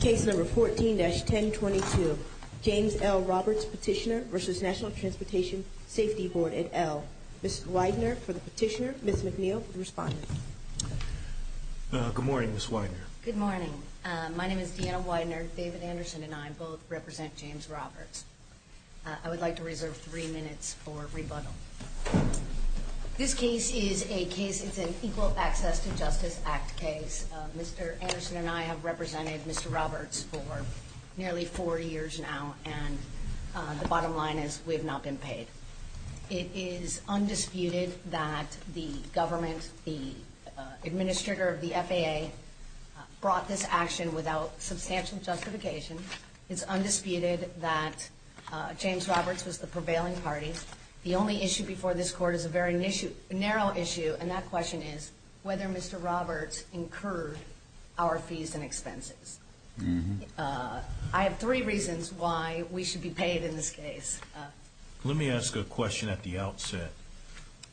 Case number 14-1022 James L. Roberts Petitioner v. National Transportation Safety Board, et al. Ms. Widener for the petitioner, Ms. McNeil for the respondent. Good morning, Ms. Widener. Good morning. My name is Deanna Widener. David Anderson and I both represent James Roberts. I would like to reserve three minutes for rebuttal. This case is an Equal Access to Justice Act case. Mr. Anderson and I have represented Mr. Roberts for nearly four years now, and the bottom line is we have not been paid. It is undisputed that the government, the administrator of the FAA, brought this action without substantial justification. It's undisputed that James Roberts was the prevailing party. The only issue before this Court is a very narrow issue, and that question is whether Mr. Roberts incurred our fees and expenses. I have three reasons why we should be paid in this case. Let me ask a question at the outset.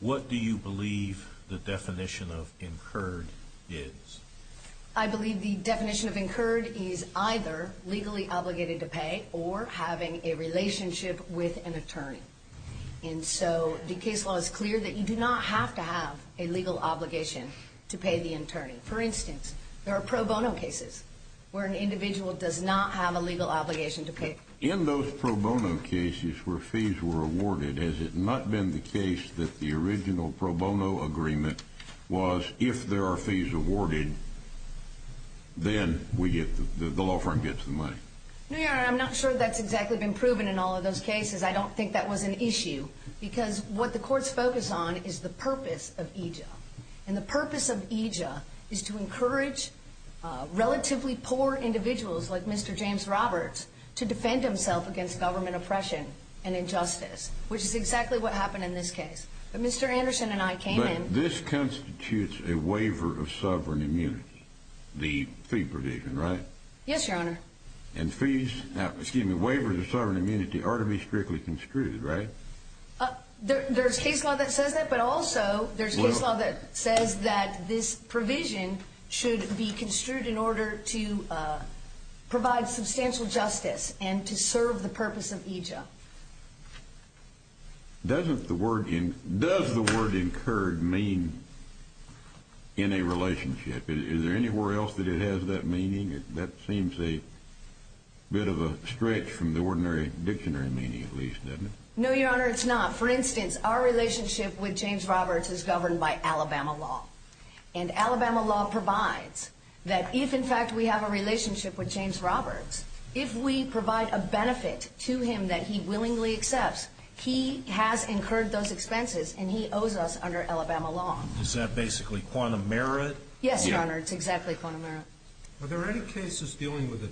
What do you believe the definition of incurred is? I believe the definition of incurred is either legally obligated to pay or having a relationship with an attorney. And so the case law is clear that you do not have to have a legal obligation to pay the attorney. For instance, there are pro bono cases where an individual does not have a legal obligation to pay. In those pro bono cases where fees were awarded, has it not been the case that the original pro bono agreement was, if there are fees awarded, then the law firm gets the money? No, Your Honor, I'm not sure that's exactly been proven in all of those cases. I don't think that was an issue, because what the courts focus on is the purpose of EJA. And the purpose of EJA is to encourage relatively poor individuals like Mr. James Roberts to defend himself against government oppression and injustice, which is exactly what happened in this case. But Mr. Anderson and I came in... But this constitutes a waiver of sovereign immunity, the fee provision, right? Yes, Your Honor. And fees, excuse me, waivers of sovereign immunity are to be strictly construed, right? There's case law that says that, but also there's case law that says that this provision should be construed in order to provide substantial justice and to serve the purpose of EJA. Does the word incurred mean in a relationship? Is there anywhere else that it has that meaning? That seems a bit of a stretch from the ordinary dictionary meaning, at least, doesn't it? No, Your Honor, it's not. For instance, our relationship with James Roberts is governed by Alabama law. And Alabama law provides that if, in fact, we have a relationship with James Roberts, if we provide a benefit to him that he willingly accepts, he has incurred those expenses and he owes us under Alabama law. Is that basically quantum merit? Yes, Your Honor, it's exactly quantum merit. Are there any cases dealing with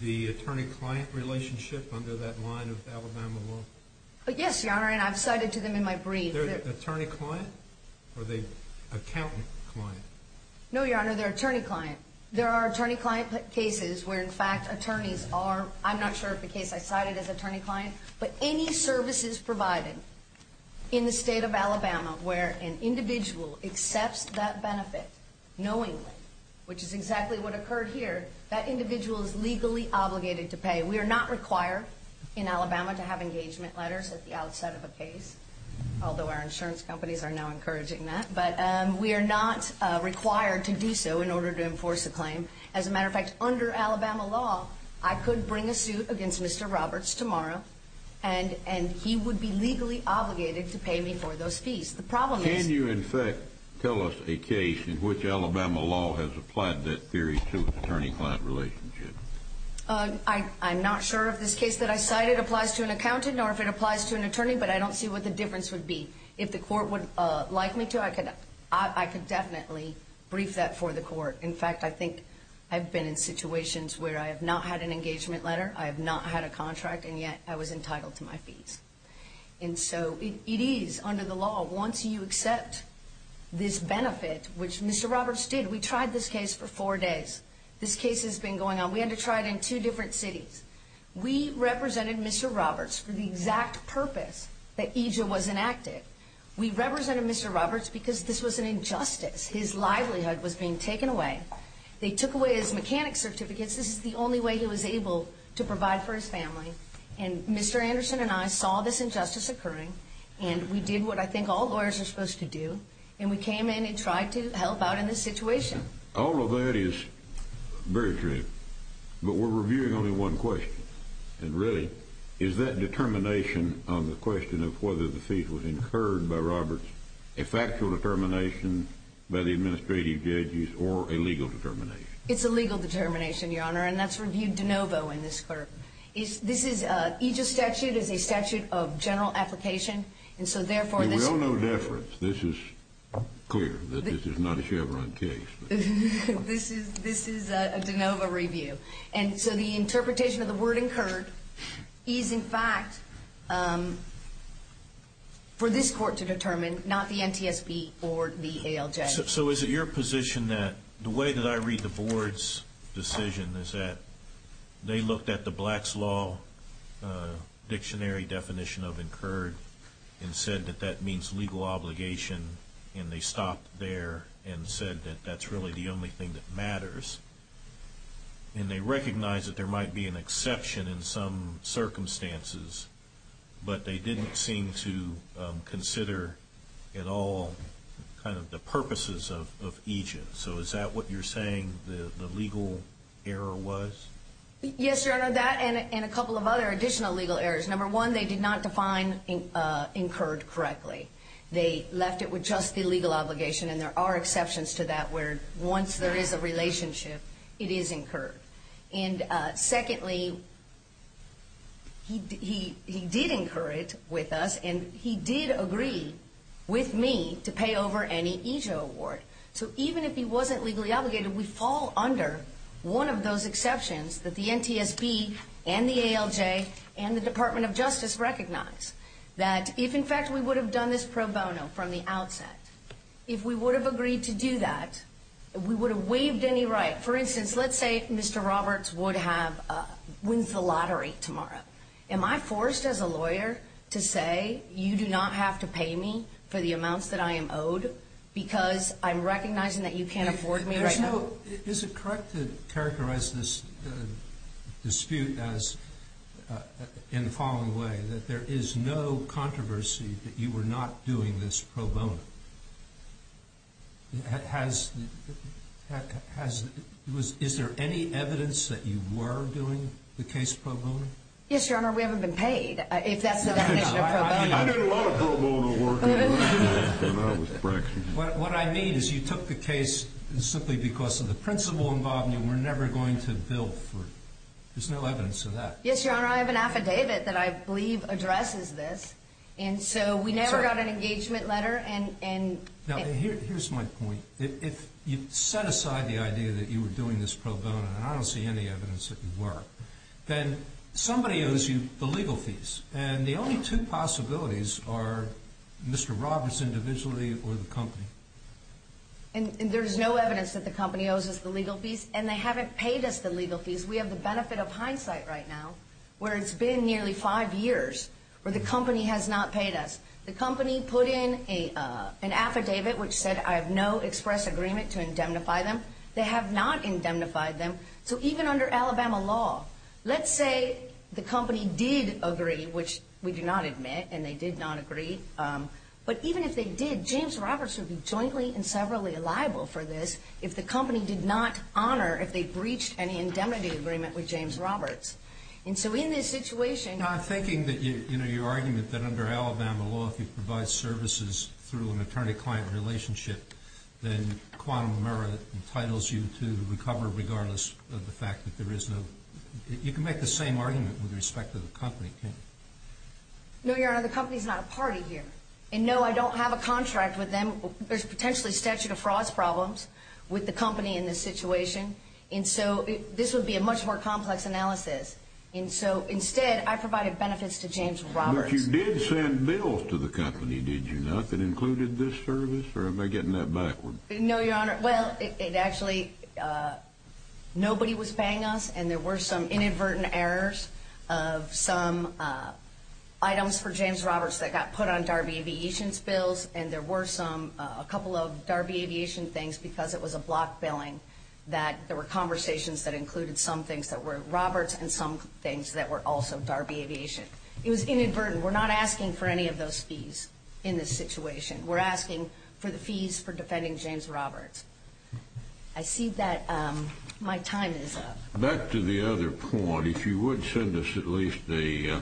the attorney-client relationship under that line of Alabama law? Yes, Your Honor, and I've cited to them in my brief. The attorney-client or the accountant-client? No, Your Honor, they're attorney-client. There are attorney-client cases where, in fact, attorneys are, I'm not sure if the case I cited is attorney-client, but any services provided in the state of Alabama where an individual accepts that benefit knowingly, which is exactly what occurred here, that individual is legally obligated to pay. We are not required in Alabama to have engagement letters at the outset of a case, although our insurance companies are now encouraging that, but we are not required to do so in order to enforce a claim. As a matter of fact, under Alabama law, I could bring a suit against Mr. Roberts tomorrow, and he would be legally obligated to pay me for those fees. Can you, in fact, tell us a case in which Alabama law has applied that theory to an attorney-client relationship? I'm not sure if this case that I cited applies to an accountant or if it applies to an attorney, but I don't see what the difference would be. If the court would like me to, I could definitely brief that for the court. In fact, I think I've been in situations where I have not had an engagement letter, I have not had a contract, and yet I was entitled to my fees. And so it is under the law, once you accept this benefit, which Mr. Roberts did. We tried this case for four days. This case has been going on. We had to try it in two different cities. We represented Mr. Roberts for the exact purpose that EJA was enacted. We represented Mr. Roberts because this was an injustice. His livelihood was being taken away. They took away his mechanic certificates. This is the only way he was able to provide for his family. And Mr. Anderson and I saw this injustice occurring, and we did what I think all lawyers are supposed to do, and we came in and tried to help out in this situation. All of that is very true, but we're reviewing only one question, and really is that determination on the question of whether the fee was incurred by Roberts a factual determination by the administrative judges or a legal determination? It's a legal determination, Your Honor, and that's reviewed de novo in this court. This is an EJA statute. It is a statute of general application, and so therefore this is clear. We owe no deference. This is clear that this is not a Chevron case. This is a de novo review. And so the interpretation of the word incurred is, in fact, for this court to determine, not the NTSB or the ALJ. So is it your position that the way that I read the board's decision is that they looked at the Black's Law dictionary definition of incurred and said that that means legal obligation, and they stopped there and said that that's really the only thing that matters, and they recognized that there might be an exception in some circumstances, but they didn't seem to consider at all kind of the purposes of EJA. So is that what you're saying the legal error was? Yes, Your Honor, that and a couple of other additional legal errors. Number one, they did not define incurred correctly. They left it with just the legal obligation, and there are exceptions to that where once there is a relationship, it is incurred. And secondly, he did incur it with us, and he did agree with me to pay over any EJA award. So even if he wasn't legally obligated, we fall under one of those exceptions that the NTSB and the ALJ and the Department of Justice recognize, that if, in fact, we would have done this pro bono from the outset, if we would have agreed to do that, we would have waived any right. For instance, let's say Mr. Roberts wins the lottery tomorrow. Am I forced as a lawyer to say you do not have to pay me for the amounts that I am owed because I'm recognizing that you can't afford me right now? Is it correct to characterize this dispute as, in the following way, that there is no controversy that you were not doing this pro bono? Is there any evidence that you were doing the case pro bono? Yes, Your Honor, we haven't been paid, if that's the definition of pro bono. I did a lot of pro bono work. What I mean is you took the case simply because of the principal involved and you were never going to bill for it. There's no evidence of that. Yes, Your Honor, I have an affidavit that I believe addresses this. And so we never got an engagement letter. Now, here's my point. If you set aside the idea that you were doing this pro bono, and I don't see any evidence that you were, then somebody owes you the legal fees. And the only two possibilities are Mr. Roberts individually or the company. And there's no evidence that the company owes us the legal fees, and they haven't paid us the legal fees. We have the benefit of hindsight right now where it's been nearly five years where the company has not paid us. The company put in an affidavit which said I have no express agreement to indemnify them. They have not indemnified them. So even under Alabama law, let's say the company did agree, which we do not admit, and they did not agree, but even if they did, James Roberts would be jointly and severally liable for this if the company did not honor if they breached any indemnity agreement with James Roberts. And so in this situation... I'm thinking that your argument that under Alabama law, if you provide services through an attorney-client relationship, then quantum of merit entitles you to recover regardless of the fact that there is no... You can make the same argument with respect to the company, can't you? No, Your Honor, the company is not a party here. And no, I don't have a contract with them. There's potentially statute of frauds problems with the company in this situation. And so this would be a much more complex analysis. And so instead, I provided benefits to James Roberts. But you did send bills to the company, did you not, that included this service? Or am I getting that backward? No, Your Honor. Well, actually, nobody was paying us, and there were some inadvertent errors of some items for James Roberts that got put on Darby Aviation's bills, and there were a couple of Darby Aviation things because it was a block billing that there were conversations that included some things that were Roberts and some things that were also Darby Aviation. It was inadvertent. We're not asking for any of those fees in this situation. We're asking for the fees for defending James Roberts. I see that my time is up. Back to the other point, if you would send us at least a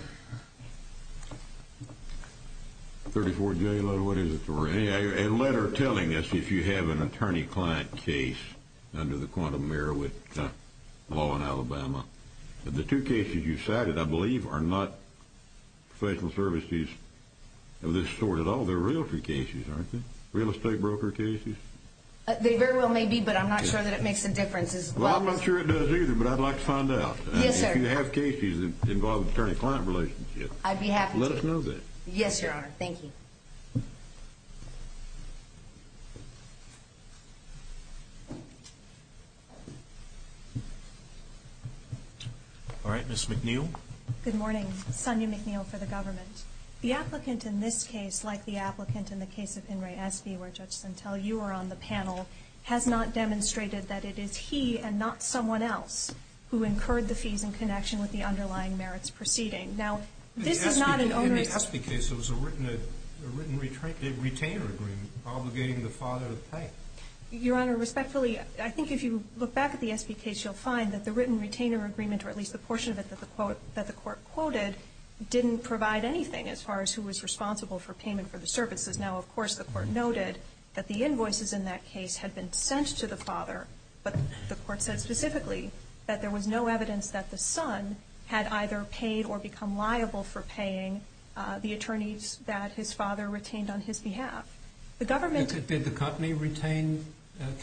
34-day letter, what is it, a letter telling us if you have an attorney-client case under the quantum mirror with law in Alabama. But the two cases you cited, I believe, are not professional services of this sort at all. Well, they're real free cases, aren't they? Real estate broker cases. They very well may be, but I'm not sure that it makes a difference. Well, I'm not sure it does either, but I'd like to find out. Yes, sir. If you have cases involving attorney-client relationships. I'd be happy to. Let us know that. Yes, Your Honor. Thank you. All right, Ms. McNeil. Good morning. Sonya McNeil for the government. The applicant in this case, like the applicant in the case of In re Espy, where, Judge Sentel, you were on the panel, has not demonstrated that it is he and not someone else who incurred the fees in connection with the underlying merits proceeding. Now, this is not an onerous. In the Espy case, there was a written retainer agreement obligating the father to pay. Your Honor, respectfully, I think if you look back at the Espy case, you'll find that the written retainer agreement, or at least the portion of it that the court quoted, didn't provide anything as far as who was responsible for payment for the services. Now, of course, the court noted that the invoices in that case had been sent to the father, but the court said specifically that there was no evidence that the son had either paid or become liable for paying the attorneys that his father retained on his behalf. Did the company retain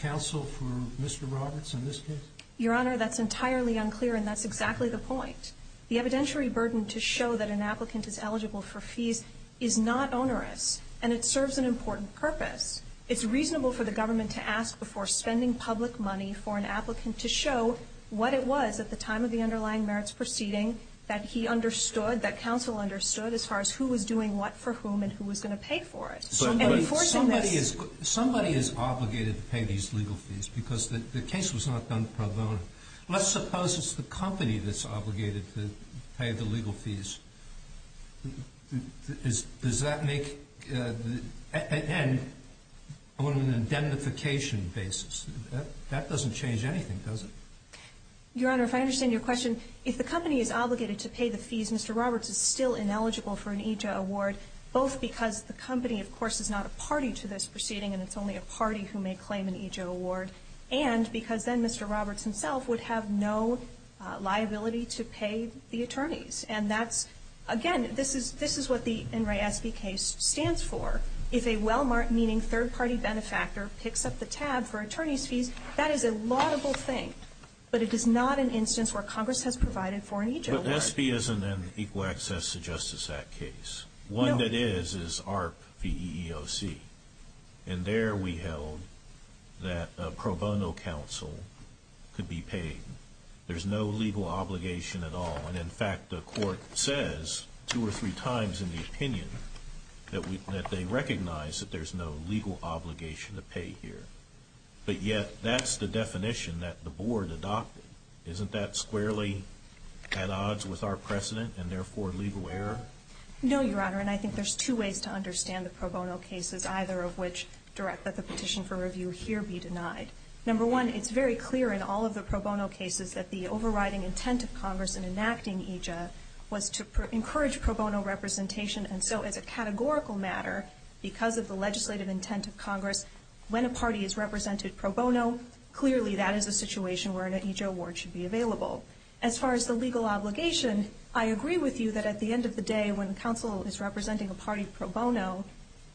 counsel for Mr. Roberts in this case? Your Honor, that's entirely unclear, and that's exactly the point. The evidentiary burden to show that an applicant is eligible for fees is not onerous, and it serves an important purpose. It's reasonable for the government to ask before spending public money for an applicant to show what it was at the time of the underlying merits proceeding that he understood, that counsel understood as far as who was doing what for whom and who was going to pay for it. And before doing this ---- So somebody is obligated to pay these legal fees because the case was not done pro bono. Let's suppose it's the company that's obligated to pay the legal fees. Does that make the end on an indemnification basis? That doesn't change anything, does it? Your Honor, if I understand your question, if the company is obligated to pay the fees, Mr. Roberts is still ineligible for an ETA award, both because the company, of course, is not a party to this proceeding and it's only a party who may claim an ETA award, and because then Mr. Roberts himself would have no liability to pay the attorneys. And that's, again, this is what the Enright SB case stands for. If a Wellmark, meaning third-party benefactor, picks up the tab for attorneys' fees, that is a laudable thing, but it is not an instance where Congress has provided for an ETA award. But SB isn't an Equal Access to Justice Act case. One that is is ARP v. EEOC. And there we held that a pro bono counsel could be paid. There's no legal obligation at all. And, in fact, the court says two or three times in the opinion that they recognize that there's no legal obligation to pay here. But yet that's the definition that the Board adopted. Isn't that squarely at odds with our precedent and, therefore, legal error? No, Your Honor, and I think there's two ways to understand the pro bono cases, either of which direct that the petition for review here be denied. Number one, it's very clear in all of the pro bono cases that the overriding intent of Congress in enacting EJA was to encourage pro bono representation. And so, as a categorical matter, because of the legislative intent of Congress, when a party is represented pro bono, clearly that is a situation where an ETA award should be available. As far as the legal obligation, I agree with you that at the end of the day, when counsel is representing a party pro bono,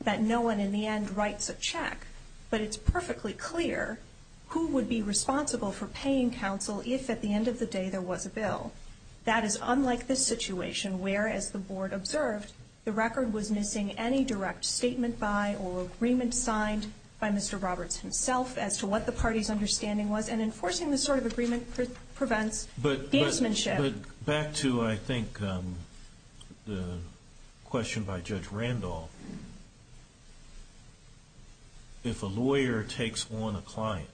that no one in the end writes a check. But it's perfectly clear who would be responsible for paying counsel if, at the end of the day, there was a bill. That is unlike this situation where, as the Board observed, the record was missing any direct statement by or agreement signed by Mr. Roberts himself as to what the party's understanding was. And enforcing this sort of agreement prevents gamesmanship. But back to, I think, the question by Judge Randolph. If a lawyer takes on a client,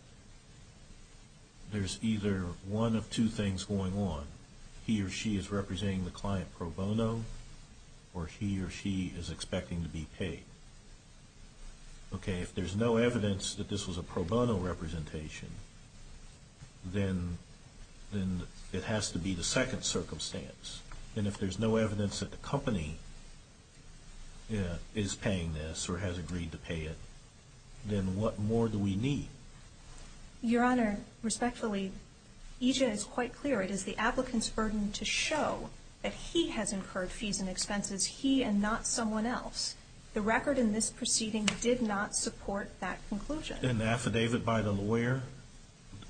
there's either one of two things going on. He or she is representing the client pro bono, or he or she is expecting to be paid. Okay, if there's no evidence that this was a pro bono representation, then it has to be the second circumstance. And if there's no evidence that the company is paying this, or has agreed to pay it, then what more do we need? Your Honor, respectfully, EJ is quite clear. It is the applicant's burden to show that he has incurred fees and expenses, he and not someone else. The record in this proceeding did not support that conclusion. An affidavit by the lawyer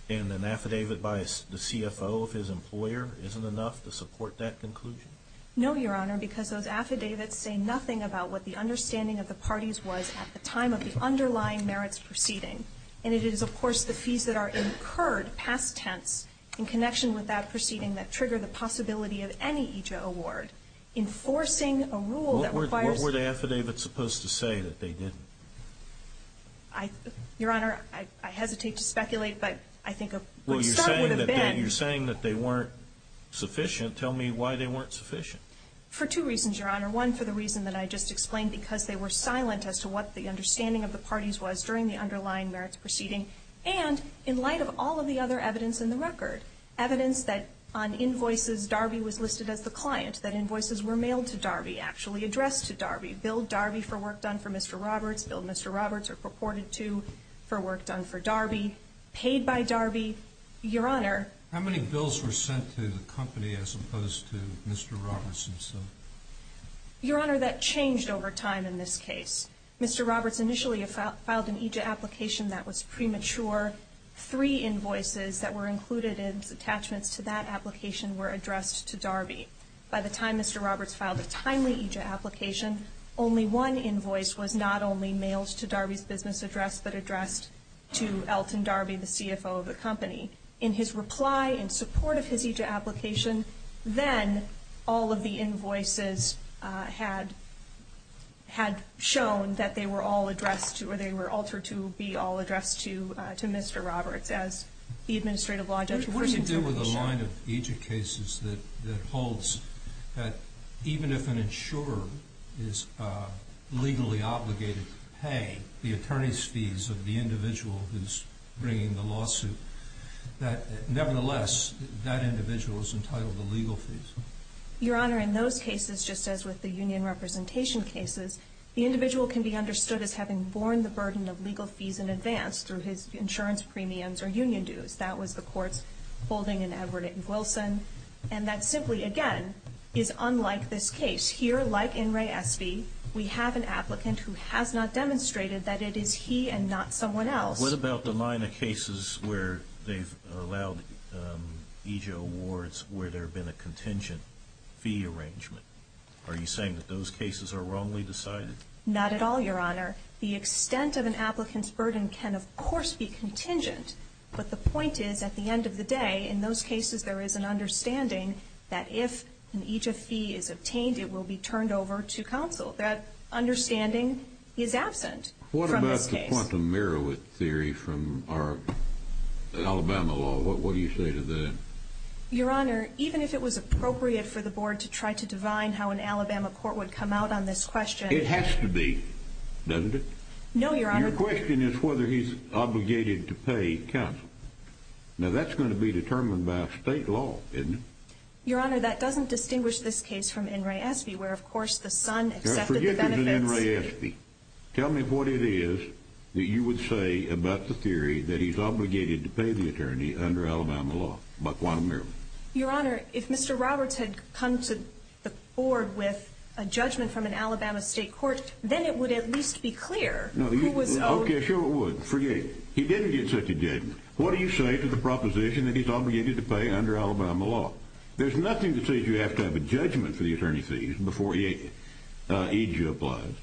and an affidavit by the CFO of his employer isn't enough to support that conclusion? No, Your Honor, because those affidavits say nothing about what the understanding of the parties was at the time of the underlying merits proceeding. And it is, of course, the fees that are incurred past tense in connection with that proceeding that trigger the possibility of any EJ award. Enforcing a rule that requires... What were the affidavits supposed to say that they didn't? Your Honor, I hesitate to speculate, but I think a good start would have been... Well, you're saying that they weren't sufficient. Tell me why they weren't sufficient. For two reasons, Your Honor. One, for the reason that I just explained, because they were silent as to what the understanding of the parties was during the underlying merits proceeding. And in light of all of the other evidence in the record, evidence that on invoices Darby was listed as the client, that invoices were mailed to Darby, actually addressed to Darby, billed Darby for work done for Mr. Roberts, billed Mr. Roberts or purported to for work done for Darby, paid by Darby. Your Honor... How many bills were sent to the company as opposed to Mr. Roberts himself? Your Honor, that changed over time in this case. Mr. Roberts initially filed an EJ application that was premature. Three invoices that were included as attachments to that application were addressed to Darby. By the time Mr. Roberts filed a timely EJ application, only one invoice was not only mailed to Darby's business address but addressed to Elton Darby, the CFO of the company. In his reply in support of his EJ application, then all of the invoices had shown that they were all addressed or they were altered to be all addressed to Mr. Roberts as the administrative law judge. What does he do with the line of EJ cases that holds that even if an insurer is legally obligated to pay the attorney's fees of the individual who's bringing the lawsuit, that nevertheless that individual is entitled to legal fees? Your Honor, in those cases, just as with the union representation cases, the individual can be understood as having borne the burden of legal fees in advance through his insurance premiums or union dues. That was the court's holding in Edward N. Wilson. And that simply, again, is unlike this case. Here, like in Ray Espy, we have an applicant who has not demonstrated that it is he and not someone else. What about the line of cases where they've allowed EJ awards where there have been a contingent fee arrangement? Are you saying that those cases are wrongly decided? Not at all, Your Honor. The extent of an applicant's burden can, of course, be contingent, but the point is at the end of the day, in those cases, there is an understanding that if an EJ fee is obtained, it will be turned over to counsel. That understanding is absent from this case. What about the quantum Merowith theory from our Alabama law? What do you say to that? Your Honor, even if it was appropriate for the board to try to divine how an Alabama court would come out on this question. It has to be, doesn't it? No, Your Honor. Your question is whether he's obligated to pay counsel. Now, that's going to be determined by state law, isn't it? Your Honor, that doesn't distinguish this case from in Ray Espy, where, of course, the son accepted the benefits. Tell me what it is that you would say about the theory that he's obligated to pay the attorney under Alabama law about quantum Merowith. Your Honor, if Mr. Roberts had come to the board with a judgment from an Alabama state court, then it would at least be clear who was owed. Okay, sure it would. Forget it. He didn't get such a judgment. What do you say to the proposition that he's obligated to pay under Alabama law? There's nothing that says you have to have a judgment for the attorney fees before EJ applies.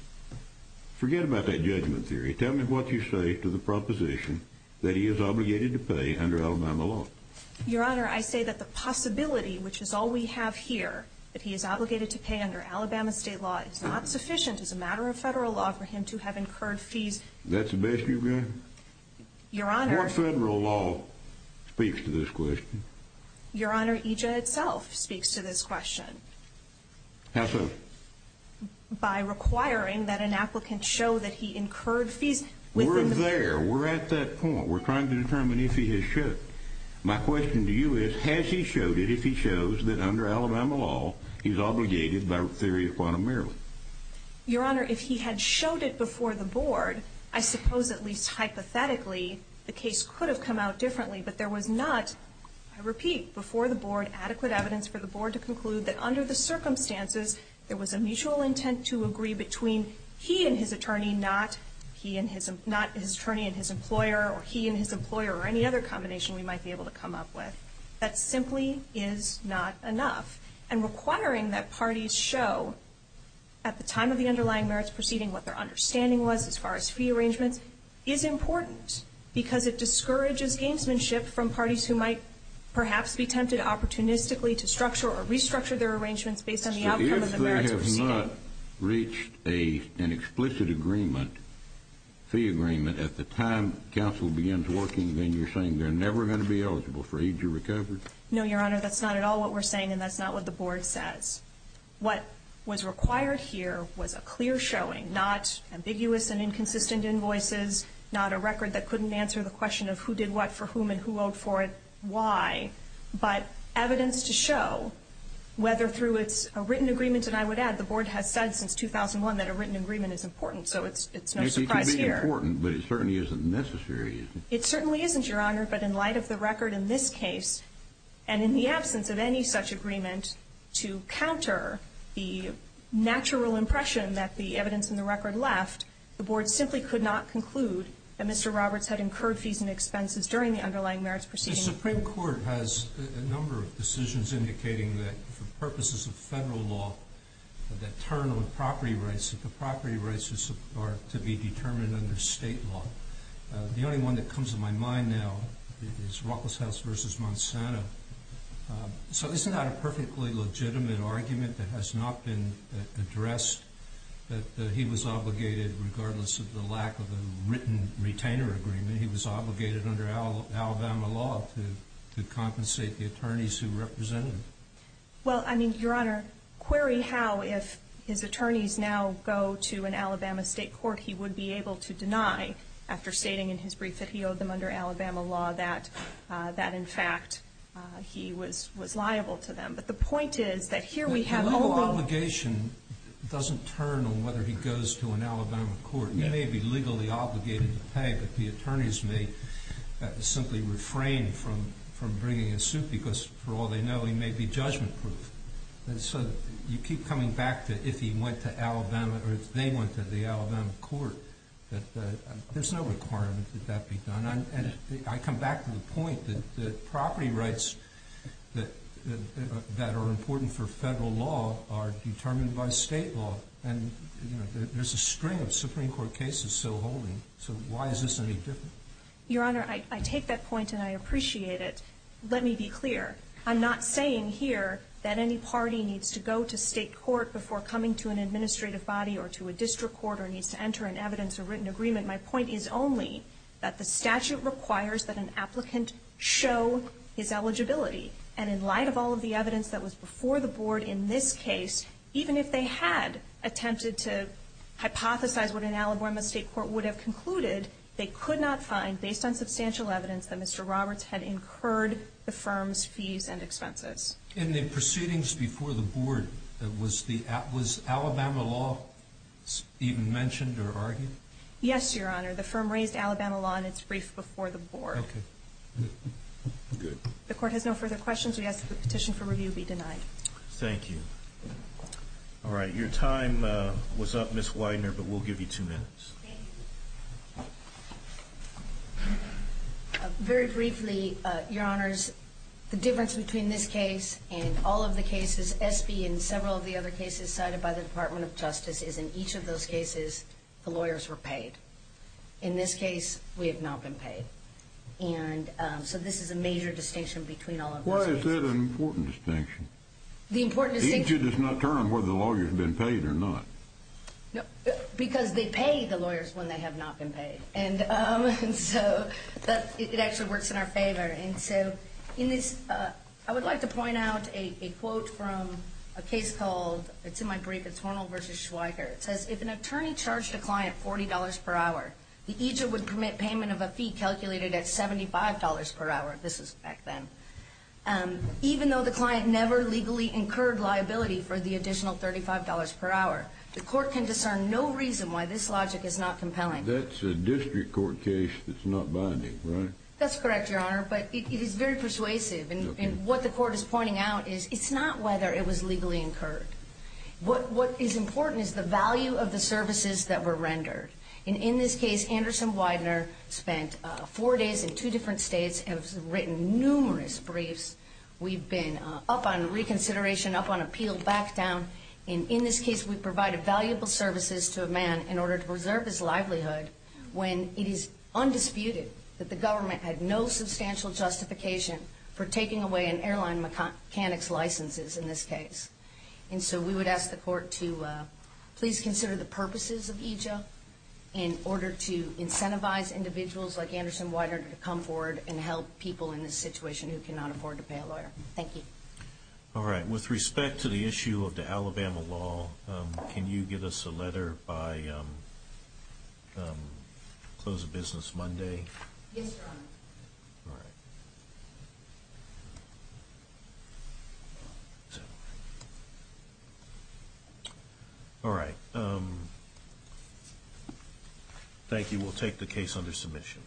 Forget about that judgment theory. Tell me what you say to the proposition that he is obligated to pay under Alabama law. Your Honor, I say that the possibility, which is all we have here, that he is obligated to pay under Alabama state law is not sufficient as a matter of federal law for him to have incurred fees. That's the best you've got? Your Honor... What federal law speaks to this question? Your Honor, EJ itself speaks to this question. How so? By requiring that an applicant show that he incurred fees within the... We're there. We're at that point. We're trying to determine if he has showed it. My question to you is, has he showed it if he shows that under Alabama law he's obligated by theory of quantum merriment? Your Honor, if he had showed it before the board, I suppose at least hypothetically the case could have come out differently, but there was not, I repeat, before the board, adequate evidence for the board to conclude that under the circumstances there was a mutual intent to agree between he and his attorney, not his attorney and his employer, or he and his employer or any other combination we might be able to come up with. That simply is not enough. And requiring that parties show at the time of the underlying merits proceeding what their understanding was as far as fee arrangements is important because it discourages gamesmanship from parties who might perhaps be tempted opportunistically to structure or restructure their arrangements based on the outcome of the merits proceeding. If they have not reached an explicit agreement, fee agreement, at the time counsel begins working, then you're saying they're never going to be eligible for EJ recovery? No, Your Honor, that's not at all what we're saying, and that's not what the board says. What was required here was a clear showing, not ambiguous and inconsistent invoices, not a record that couldn't answer the question of who did what for whom and who owed for it why, but evidence to show whether through a written agreement, and I would add the board has said since 2001 that a written agreement is important, so it's no surprise here. It could be important, but it certainly isn't necessary, is it? It certainly isn't, Your Honor, but in light of the record in this case, and in the absence of any such agreement to counter the natural impression that the evidence in the record left, the board simply could not conclude that Mr. Roberts had incurred fees and expenses during the underlying merits proceeding. The Supreme Court has a number of decisions indicating that for purposes of federal law that turn on property rights, that the property rights are to be determined under state law. The only one that comes to my mind now is Ruckles' House v. Monsanto. So isn't that a perfectly legitimate argument that has not been addressed, that he was obligated, regardless of the lack of a written retainer agreement, he was obligated under Alabama law to compensate the attorneys who represented him? Well, I mean, Your Honor, query how, if his attorneys now go to an Alabama state court, that he would be able to deny, after stating in his brief that he owed them under Alabama law, that, in fact, he was liable to them. But the point is that here we have overall— The legal obligation doesn't turn on whether he goes to an Alabama court. He may be legally obligated to pay, but the attorneys may simply refrain from bringing a suit because, for all they know, he may be judgment-proof. And so you keep coming back to if he went to Alabama, or if they went to the Alabama court, that there's no requirement that that be done. And I come back to the point that property rights that are important for federal law are determined by state law, and there's a string of Supreme Court cases still holding. So why is this any different? Your Honor, I take that point and I appreciate it. Let me be clear. I'm not saying here that any party needs to go to state court before coming to an administrative body or to a district court or needs to enter an evidence or written agreement. My point is only that the statute requires that an applicant show his eligibility. And in light of all of the evidence that was before the Board in this case, even if they had attempted to hypothesize what an Alabama state court would have concluded, they could not find, based on substantial evidence, that Mr. Roberts had incurred the firm's fees and expenses. In the proceedings before the Board, was Alabama law even mentioned or argued? Yes, Your Honor. The firm raised Alabama law in its brief before the Board. Okay. Good. The Court has no further questions. We ask that the petition for review be denied. Thank you. All right. Your time was up, Ms. Widener, but we'll give you two minutes. Thank you. Very briefly, Your Honors, the difference between this case and all of the cases, SB and several of the other cases cited by the Department of Justice, is in each of those cases the lawyers were paid. In this case, we have not been paid. And so this is a major distinction between all of those cases. Why is that an important distinction? The important distinction— The issue does not turn on whether the lawyer has been paid or not. Because they pay the lawyers when they have not been paid. And so it actually works in our favor. And so I would like to point out a quote from a case called—it's in my brief. It's Hornell v. Schweiker. It says, If an attorney charged a client $40 per hour, the agent would permit payment of a fee calculated at $75 per hour. This is back then. Even though the client never legally incurred liability for the additional $35 per hour, the court can discern no reason why this logic is not compelling. That's a district court case that's not binding, right? That's correct, Your Honor. But it is very persuasive. And what the court is pointing out is it's not whether it was legally incurred. What is important is the value of the services that were rendered. And in this case, Anderson Widener spent four days in two different states and has written numerous briefs. We've been up on reconsideration, up on appeal, back down. And in this case, we provided valuable services to a man in order to preserve his livelihood when it is undisputed that the government had no substantial justification for taking away an airline mechanic's licenses in this case. And so we would ask the court to please consider the purposes of EJA in order to incentivize individuals like Anderson Widener to come forward and help people in this situation who cannot afford to pay a lawyer. Thank you. All right. With respect to the issue of the Alabama law, can you give us a letter by Close of Business Monday? Yes, Your Honor. All right. All right. Thank you. We'll take the case under submission.